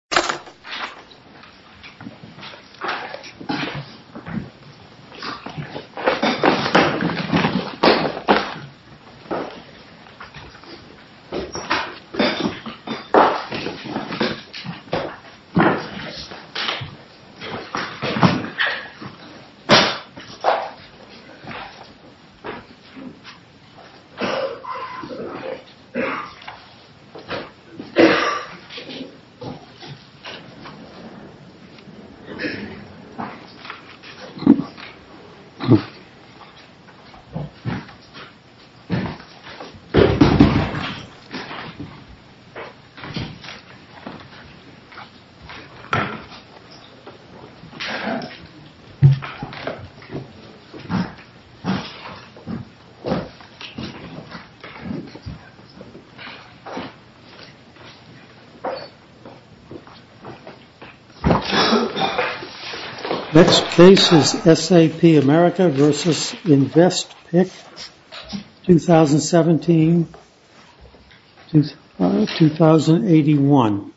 v. InvestPic, Inc. v. InvestPic, Inc. v. InvestPic, Inc. Next case is SAP America v. InvestPic, 2017-2021.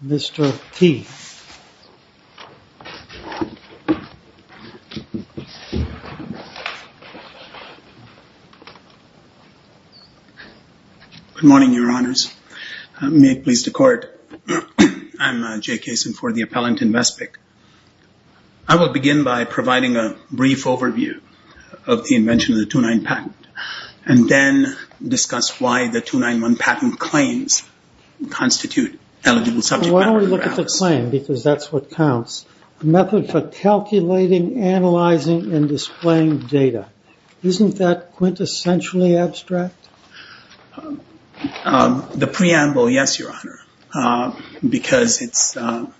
Mr. Key. Good morning, Your Honors. May it please the Court, I'm Jay Kaysen for the appellant in InvestPic. I will begin by providing a brief overview of the invention of the 2-9 patent and then discuss why the 2-9-1 patent claims constitute eligible subject matter. So why don't we look at the claim, because that's what counts. Method for calculating, analyzing, and displaying data. Isn't that quintessentially abstract? The preamble, yes, Your Honor, because it's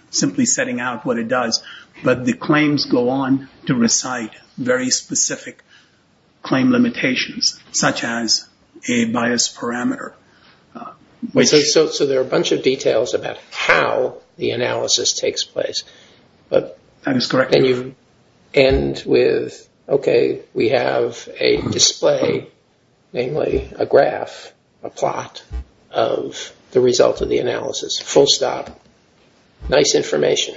simply setting out what it does, but the claims go on to recite very specific claim limitations, such as a bias parameter. So there are a bunch of details about how the analysis takes place, but then you end with, okay, we have a display, namely a graph, a plot of the result of the analysis. Full stop, nice information.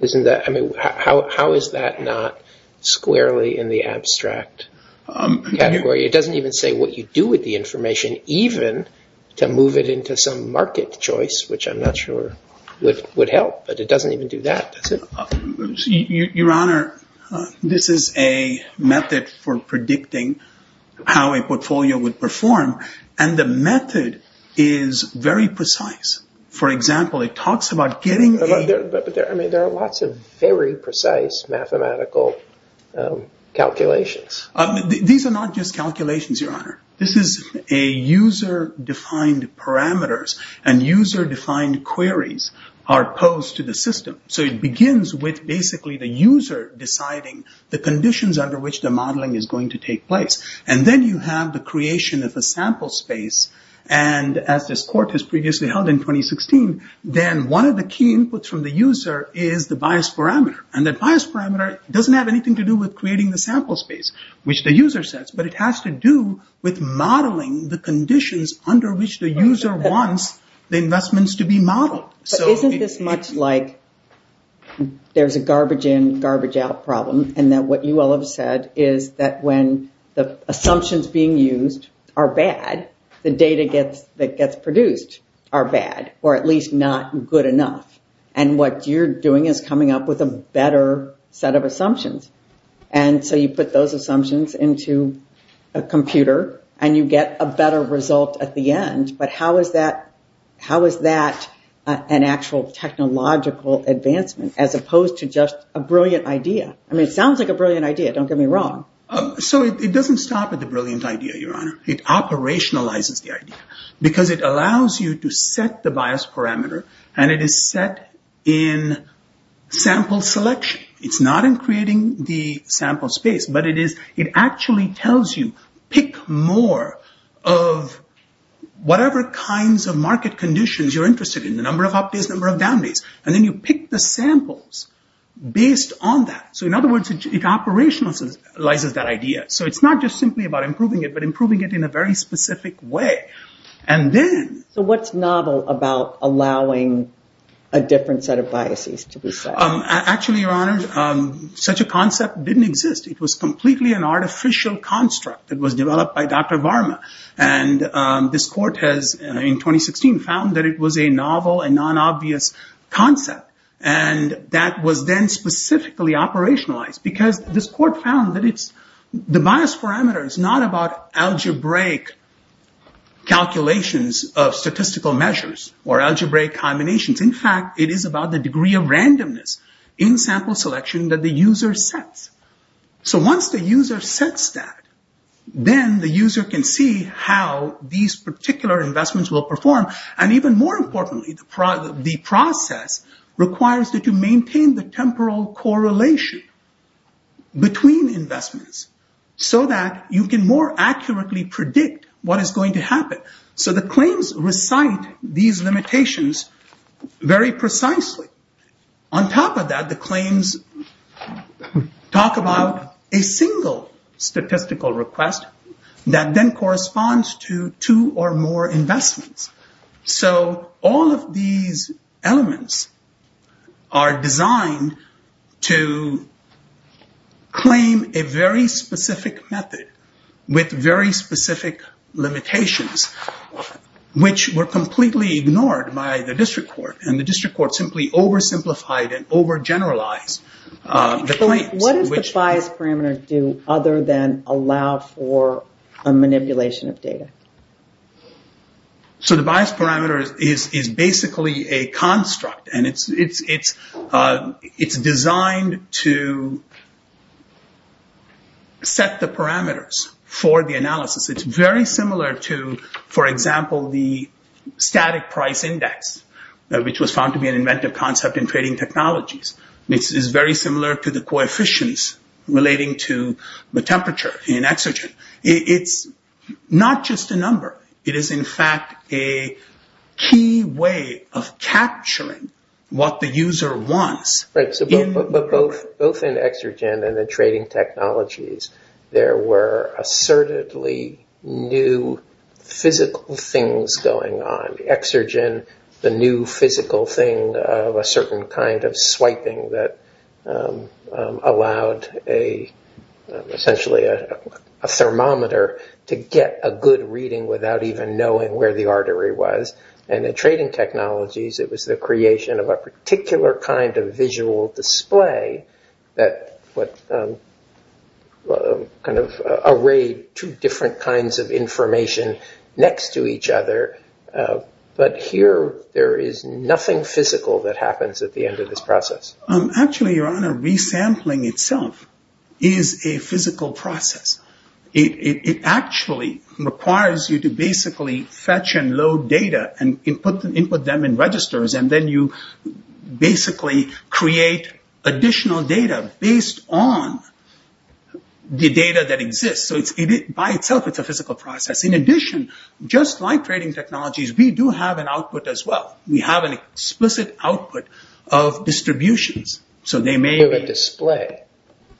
How is that not squarely in the abstract category? It doesn't even say what you do with the information, even to move it into some market choice, which I'm not sure would help, but it doesn't even do that, does it? Your Honor, this is a method for predicting how a portfolio would perform, and the method is very precise. For example, it talks about getting a- But there are lots of very precise mathematical calculations. These are not just calculations, Your Honor. This is a user-defined parameters, and user-defined queries are posed to the system. So it begins with basically the user deciding the conditions under which the modeling is going to take place, and then you have the creation of a sample space, and as this court has previously held in 2016, then one of the key inputs from the user is the bias parameter, and that bias parameter doesn't have anything to do with creating the sample space, which the user says, but it has to do with modeling the conditions under which the user wants the investments to be modeled. But isn't this much like there's a garbage in, garbage out problem, and that what you all have said is that when the assumptions being used are bad, the data that gets produced are bad, or at least not good enough, and what you're doing is coming up with a better set of assumptions, and so you put those assumptions into a computer, and you get a better result at the end, but how is that an actual technological advancement as opposed to just a brilliant idea? I mean, it sounds like a brilliant idea. Don't get me wrong. So it doesn't stop at the brilliant idea, Your Honor. It operationalizes the idea, because it allows you to set the bias parameter, and it is set in sample selection. It's not in creating the sample space, but it actually tells you, pick more of whatever kinds of market conditions you're interested in, the number of up days, the number of down days, and then you pick the samples based on that. So in other words, it operationalizes that idea. So it's not just simply about improving it, but improving it in a very specific way, and then... So what's novel about allowing a different set of biases to be set? Actually, Your Honor, such a concept didn't exist. It was completely an artificial construct. It was developed by Dr. Varma, and this court has, in 2016, found that it was a novel and non-obvious concept, and that was then specifically operationalized, because this court found that the bias parameter is not about algebraic calculations of statistical measures, or algebraic combinations. In fact, it is about the degree of randomness in sample selection that the user sets. So once the user sets that, then the user can see how these particular investments will perform, and even more importantly, the process requires that you maintain the temporal correlation between investments, so that you can more accurately predict what is going to happen. So the claims recite these limitations very precisely. On top of that, the claims talk about a single statistical request that then corresponds to two or more investments. So all of these elements are designed to claim a very specific method with very specific limitations, which were completely ignored by the district court, and the district court simply oversimplified and overgeneralized the claims. What does the bias parameter do other than allow for a manipulation of data? So the bias parameter is basically a construct, and it's designed to set the parameters for the analysis. It's very similar to, for example, the static price index, which was found to be an inventive concept in trading technologies. This is very similar to the coefficients relating to the temperature in Exergen. It's not just a number. It is, in fact, a key way of capturing what the user wants. But both in Exergen and in trading technologies, there were assertedly new physical things going on. Exergen, the new physical thing of a certain kind of swiping that allowed essentially a thermometer to get a good reading without even knowing where the artery was. And in trading technologies, it was the creation of a particular kind of visual display that arrayed two different kinds of information next to each other. But here, there is nothing physical that happens at the end of this process. Actually, Your Honor, resampling itself is a physical process. It actually requires you to basically fetch and load data and input them in registers. And then you basically create additional data based on the data that exists. So by itself, it's a physical process. In addition, just like trading technologies, we do have an output as well. We have an explicit output of distributions. You have a display.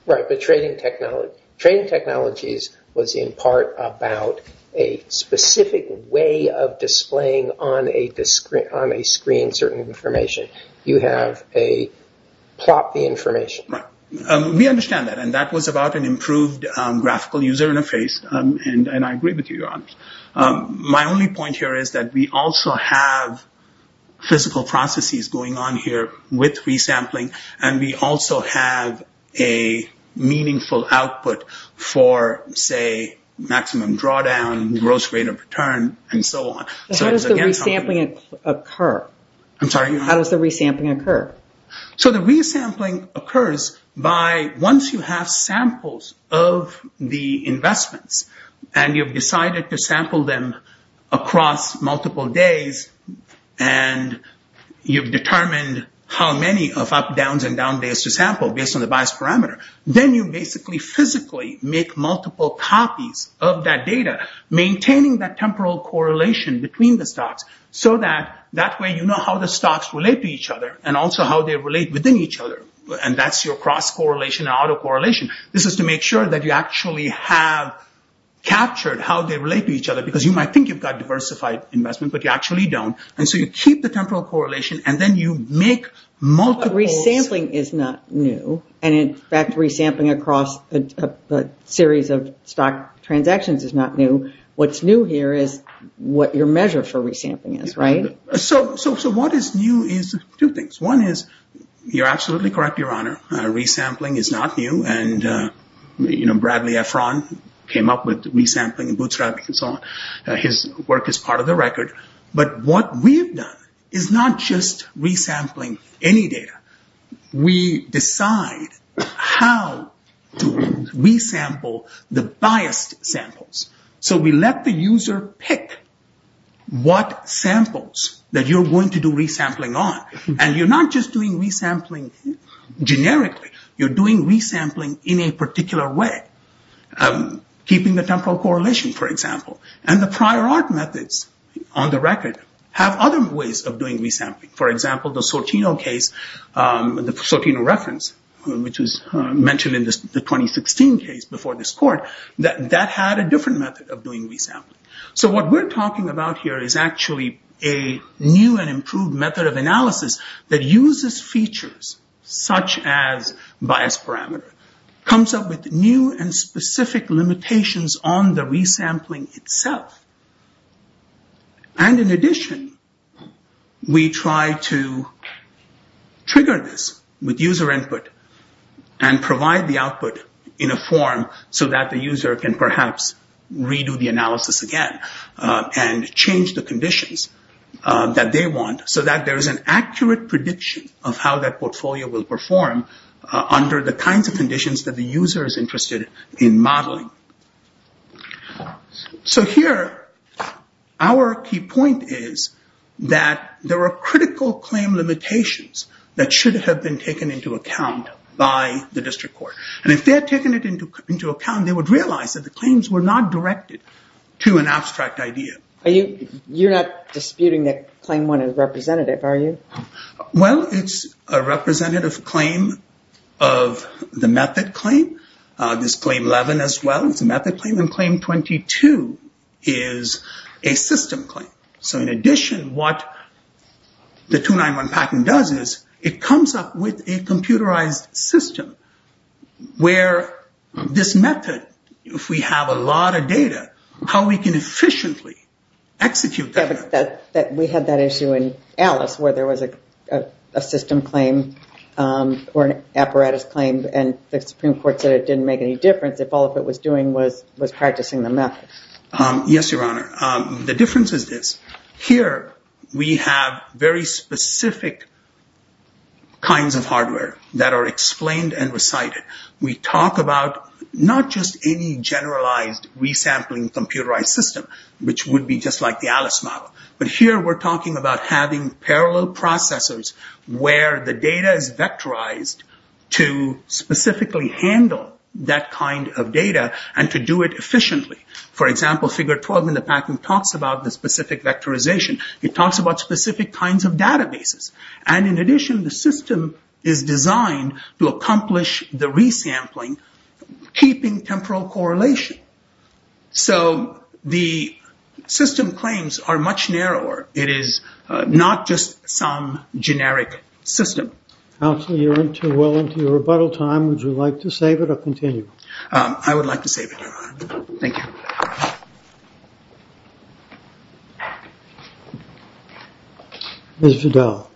Right, but trading technologies was in part about a specific way of displaying on a screen certain information. You have a plot of the information. Right. We understand that. And that was about an improved graphical user interface, and I agree with you, Your Honor. My only point here is that we also have physical processes going on here with resampling, and we also have a meaningful output for, say, maximum drawdown, gross rate of return, and so on. How does the resampling occur? I'm sorry, Your Honor? How does the resampling occur? So the resampling occurs by once you have samples of the investments, and you've decided to sample them across multiple days, and you've determined how many of up, downs, and down days to sample based on the bias parameter, then you basically physically make multiple copies of that data, maintaining that temporal correlation between the stocks, so that that way you know how the stocks relate to each other and also how they relate within each other. And that's your cross-correlation and auto-correlation. This is to make sure that you actually have captured how they relate to each other, because you might think you've got diversified investment, but you actually don't. And so you keep the temporal correlation, and then you make multiple… And in fact, resampling across a series of stock transactions is not new. What's new here is what your measure for resampling is, right? So what is new is two things. One is, you're absolutely correct, Your Honor, resampling is not new. And, you know, Bradley Efron came up with resampling and bootstrapping and so on. His work is part of the record. But what we've done is not just resampling any data. We decide how to resample the biased samples. So we let the user pick what samples that you're going to do resampling on. And you're not just doing resampling generically. You're doing resampling in a particular way, keeping the temporal correlation, for example. And the prior art methods on the record have other ways of doing resampling. For example, the Sortino case, the Sortino reference, which was mentioned in the 2016 case before this court, that had a different method of doing resampling. So what we're talking about here is actually a new and improved method of analysis that uses features such as biased parameter. It comes up with new and specific limitations on the resampling itself. And in addition, we try to trigger this with user input and provide the output in a form so that the user can perhaps redo the analysis again and change the conditions that they want so that there is an accurate prediction of how that portfolio will perform under the kinds of conditions that the user is interested in modeling. So here, our key point is that there are critical claim limitations that should have been taken into account by the district court. And if they had taken it into account, they would realize that the claims were not directed to an abstract idea. You're not disputing that Claim 1 is representative, are you? Well, it's a representative claim of the method claim. There's Claim 11 as well. It's a method claim. And Claim 22 is a system claim. So in addition, what the 291 patent does is it comes up with a computerized system where this method, if we have a lot of data, how we can efficiently execute that. We had that issue in Alice where there was a system claim or an apparatus claim and the Supreme Court said it didn't make any difference if all it was doing was practicing the method. Yes, Your Honor. The difference is this. Here, we have very specific kinds of hardware that are explained and recited. We talk about not just any generalized resampling computerized system, which would be just like the Alice model. But here, we're talking about having parallel processors where the data is vectorized to specifically handle that kind of data and to do it efficiently. For example, Figure 12 in the patent talks about the specific vectorization. It talks about specific kinds of databases. And in addition, the system is designed to accomplish the resampling, keeping temporal correlation. So the system claims are much narrower. It is not just some generic system. Counsel, you're well into your rebuttal time. Would you like to save it or continue? I would like to save it, Your Honor. Thank you. Ms. Vidal.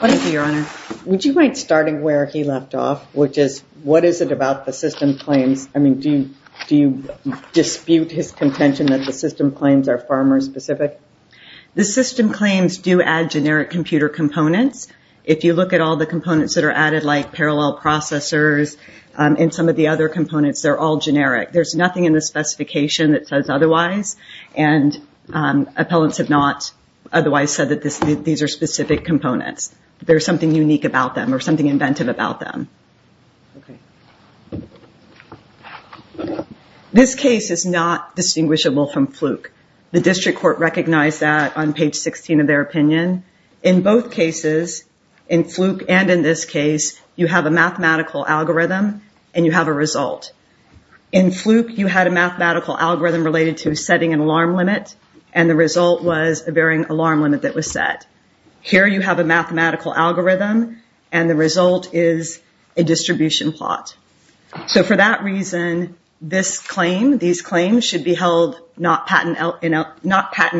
What is it, Your Honor? Would you mind starting where he left off, which is what is it about the system claims? I mean, do you dispute his contention that the system claims are farmer-specific? The system claims do add generic computer components. If you look at all the components that are added, like parallel processors and some of the other components, they're all generic. There's nothing in the specification that says otherwise, and appellants have not otherwise said that these are specific components. There's something unique about them or something inventive about them. This case is not distinguishable from Fluke. The district court recognized that on page 16 of their opinion. In both cases, in Fluke and in this case, you have a mathematical algorithm and you have a result. In Fluke, you had a mathematical algorithm related to setting an alarm limit, and the result was a varying alarm limit that was set. Here you have a mathematical algorithm, and the result is a distribution plot. So for that reason, these claims should be held not patent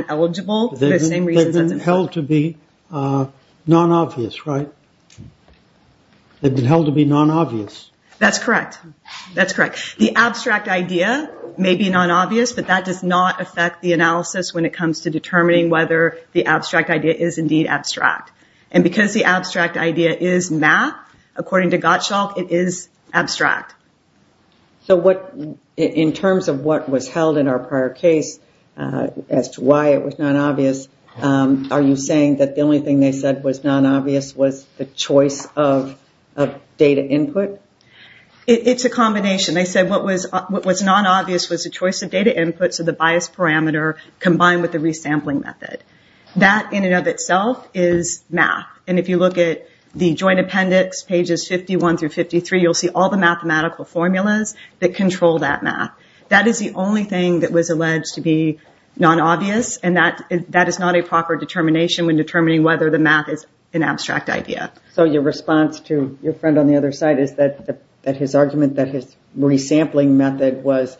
eligible. They've been held to be non-obvious, right? They've been held to be non-obvious. That's correct. That's correct. The abstract idea may be non-obvious, but that does not affect the analysis when it comes to determining whether the abstract idea is indeed abstract. Because the abstract idea is math, according to Gottschalk, it is abstract. In terms of what was held in our prior case as to why it was non-obvious, are you saying that the only thing they said was non-obvious was the choice of data input? It's a combination. They said what was non-obvious was the choice of data input, so the bias parameter combined with the resampling method. That, in and of itself, is math. And if you look at the joint appendix, pages 51 through 53, you'll see all the mathematical formulas that control that math. That is the only thing that was alleged to be non-obvious, and that is not a proper determination when determining whether the math is an abstract idea. So your response to your friend on the other side is that his argument that his resampling method was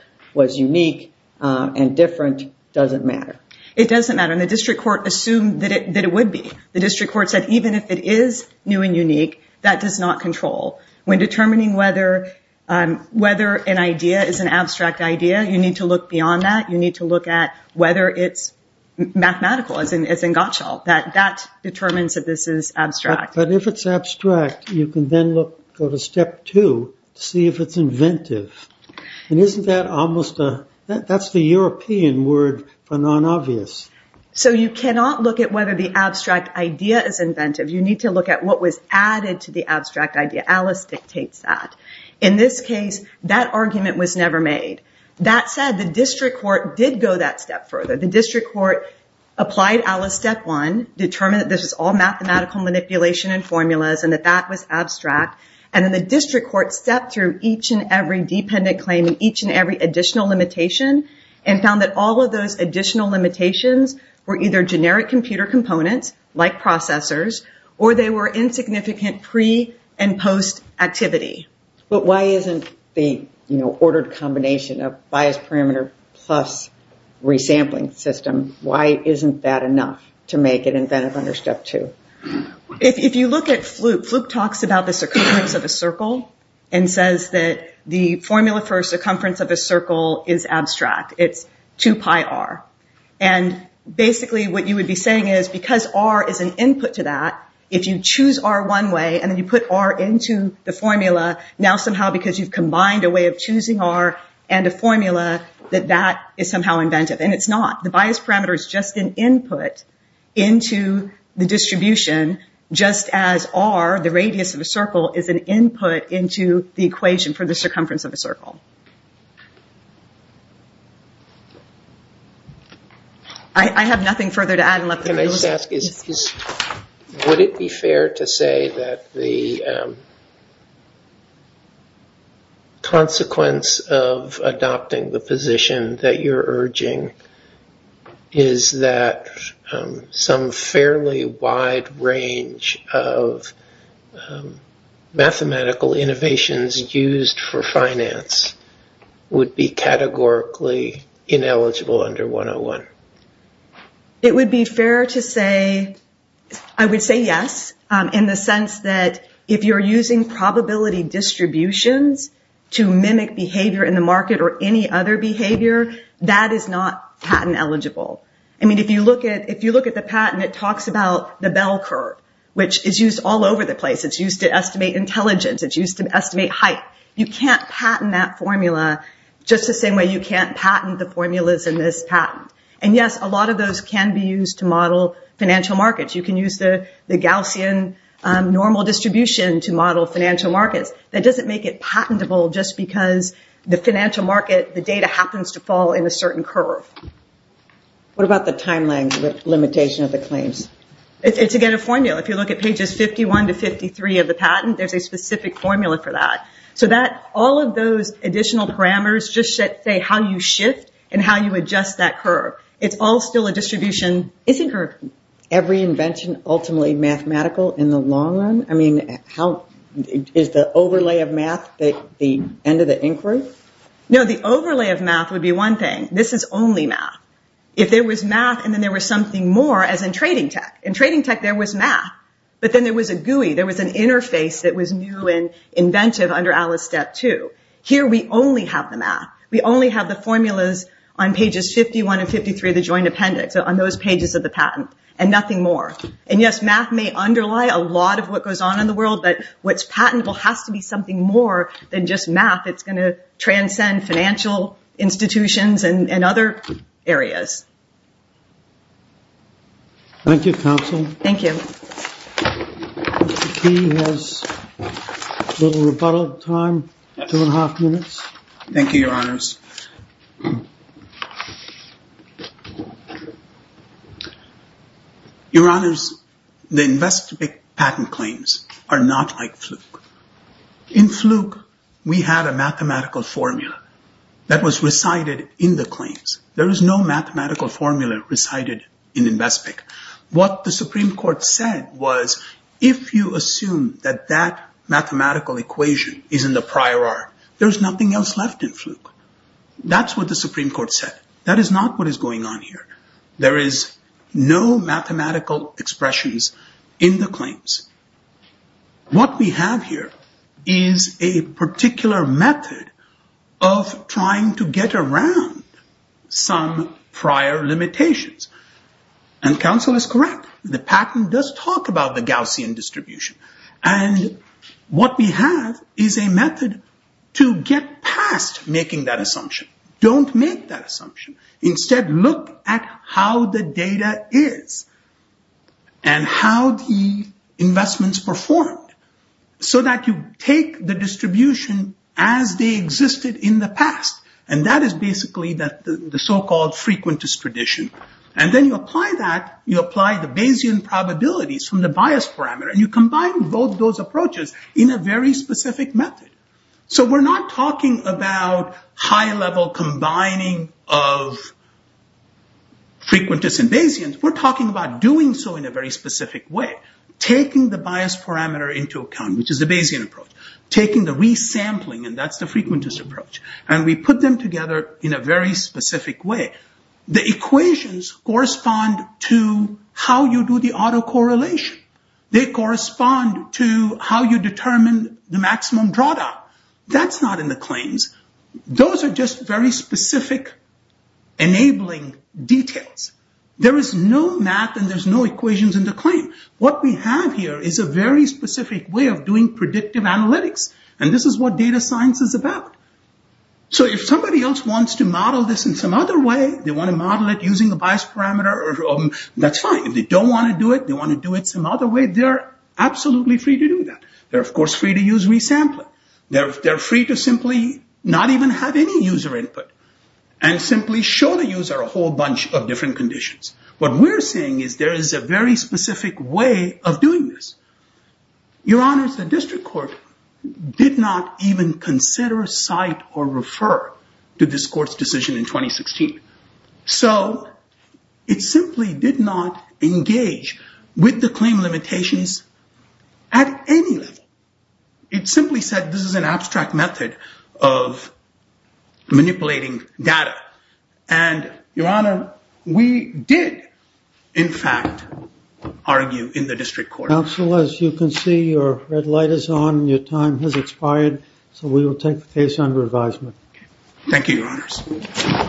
unique and different doesn't matter. It doesn't matter, and the district court assumed that it would be. The district court said even if it is new and unique, that does not control. When determining whether an idea is an abstract idea, you need to look beyond that. You need to look at whether it's mathematical, as in Gottschalk. That determines that this is abstract. But if it's abstract, you can then go to step two to see if it's inventive. And that's the European word for non-obvious. So you cannot look at whether the abstract idea is inventive. You need to look at what was added to the abstract idea. Alice dictates that. In this case, that argument was never made. That said, the district court did go that step further. The district court applied Alice step one, and that that was abstract. And then the district court stepped through each and every dependent claim, each and every additional limitation, and found that all of those additional limitations were either generic computer components, like processors, or they were insignificant pre- and post-activity. But why isn't the ordered combination of biased parameter plus resampling system, why isn't that enough to make it inventive under step two? If you look at Fluke, Fluke talks about the circumference of a circle, and says that the formula for circumference of a circle is abstract. It's 2 pi r. And basically what you would be saying is, because r is an input to that, if you choose r one way and then you put r into the formula, now somehow because you've combined a way of choosing r and a formula, that that is somehow inventive. And it's not. The biased parameter is just an input into the distribution, just as r, the radius of a circle, is an input into the equation for the circumference of a circle. I have nothing further to add. Can I just ask, would it be fair to say that the consequence of adopting the position that you're urging is that some fairly wide range of mathematical innovations used for finance would be categorically ineligible under 101? It would be fair to say, I would say yes, in the sense that if you're using probability distributions to mimic behavior in the market or any other behavior, that is not patent eligible. I mean, if you look at the patent, it talks about the bell curve, which is used all over the place. It's used to estimate intelligence. It's used to estimate height. You can't patent that formula just the same way you can't patent the formulas in this patent. And yes, a lot of those can be used to model financial markets. You can use the Gaussian normal distribution to model financial markets. That doesn't make it patentable just because the financial market, the data happens to fall in a certain curve. What about the timeline limitation of the claims? It's, again, a formula. If you look at pages 51 to 53 of the patent, there's a specific formula for that. So all of those additional parameters just say how you shift and how you adjust that curve. It's all still a distribution. Every invention ultimately mathematical in the long run? I mean, is the overlay of math the end of the inquiry? No, the overlay of math would be one thing. This is only math. If there was math and then there was something more, as in trading tech. In trading tech, there was math, but then there was a GUI. There was an interface that was new and inventive. Here we only have the math. We only have the formulas on pages 51 and 53 of the joint appendix, on those pages of the patent, and nothing more. And, yes, math may underlie a lot of what goes on in the world, but what's patentable has to be something more than just math. It's going to transcend financial institutions and other areas. Thank you, Counsel. Thank you. Mr. Key has a little rebuttal time, two and a half minutes. Thank you, Your Honors. Your Honors, the Invespig patent claims are not like Fluke. In Fluke, we had a mathematical formula that was recited in the claims. There is no mathematical formula recited in Invespig. What the Supreme Court said was, if you assume that that mathematical equation is in the prior art, there's nothing else left in Fluke. That's what the Supreme Court said. That is not what is going on here. There is no mathematical expressions in the claims. What we have here is a particular method of trying to get around some prior limitations. Counsel is correct. The patent does talk about the Gaussian distribution. What we have is a method to get past making that assumption. Don't make that assumption. Instead, look at how the data is and how the investments performed so that you take the distribution as they existed in the past. That is basically the so-called Frequentist tradition. Then you apply that. You apply the Bayesian probabilities from the bias parameter and you combine both those approaches in a very specific method. We're not talking about high-level combining of Frequentist and Bayesian. We're talking about doing so in a very specific way. Taking the bias parameter into account, which is the Bayesian approach. Taking the re-sampling, and that's the Frequentist approach. We put them together in a very specific way. The equations correspond to how you do the autocorrelation. They correspond to how you determine the maximum drawdown. That's not in the claims. Those are just very specific enabling details. There is no math and there's no equations in the claim. What we have here is a very specific way of doing predictive analytics. This is what data science is about. If somebody else wants to model this in some other way, they want to model it using a bias parameter, that's fine. If they don't want to do it, they want to do it some other way, they're absolutely free to do that. They're, of course, free to use re-sampling. They're free to simply not even have any user input and simply show the user a whole bunch of different conditions. What we're saying is there is a very specific way of doing this. Your Honor, the district court did not even consider, cite, or refer to this court's decision in 2016. It simply did not engage with the claim limitations at any level. It simply said this is an abstract method of manipulating data. Your Honor, we did, in fact, argue in the district court. Counsel, as you can see, your red light is on. Your time has expired, so we will take the case under advisement. Thank you, Your Honors.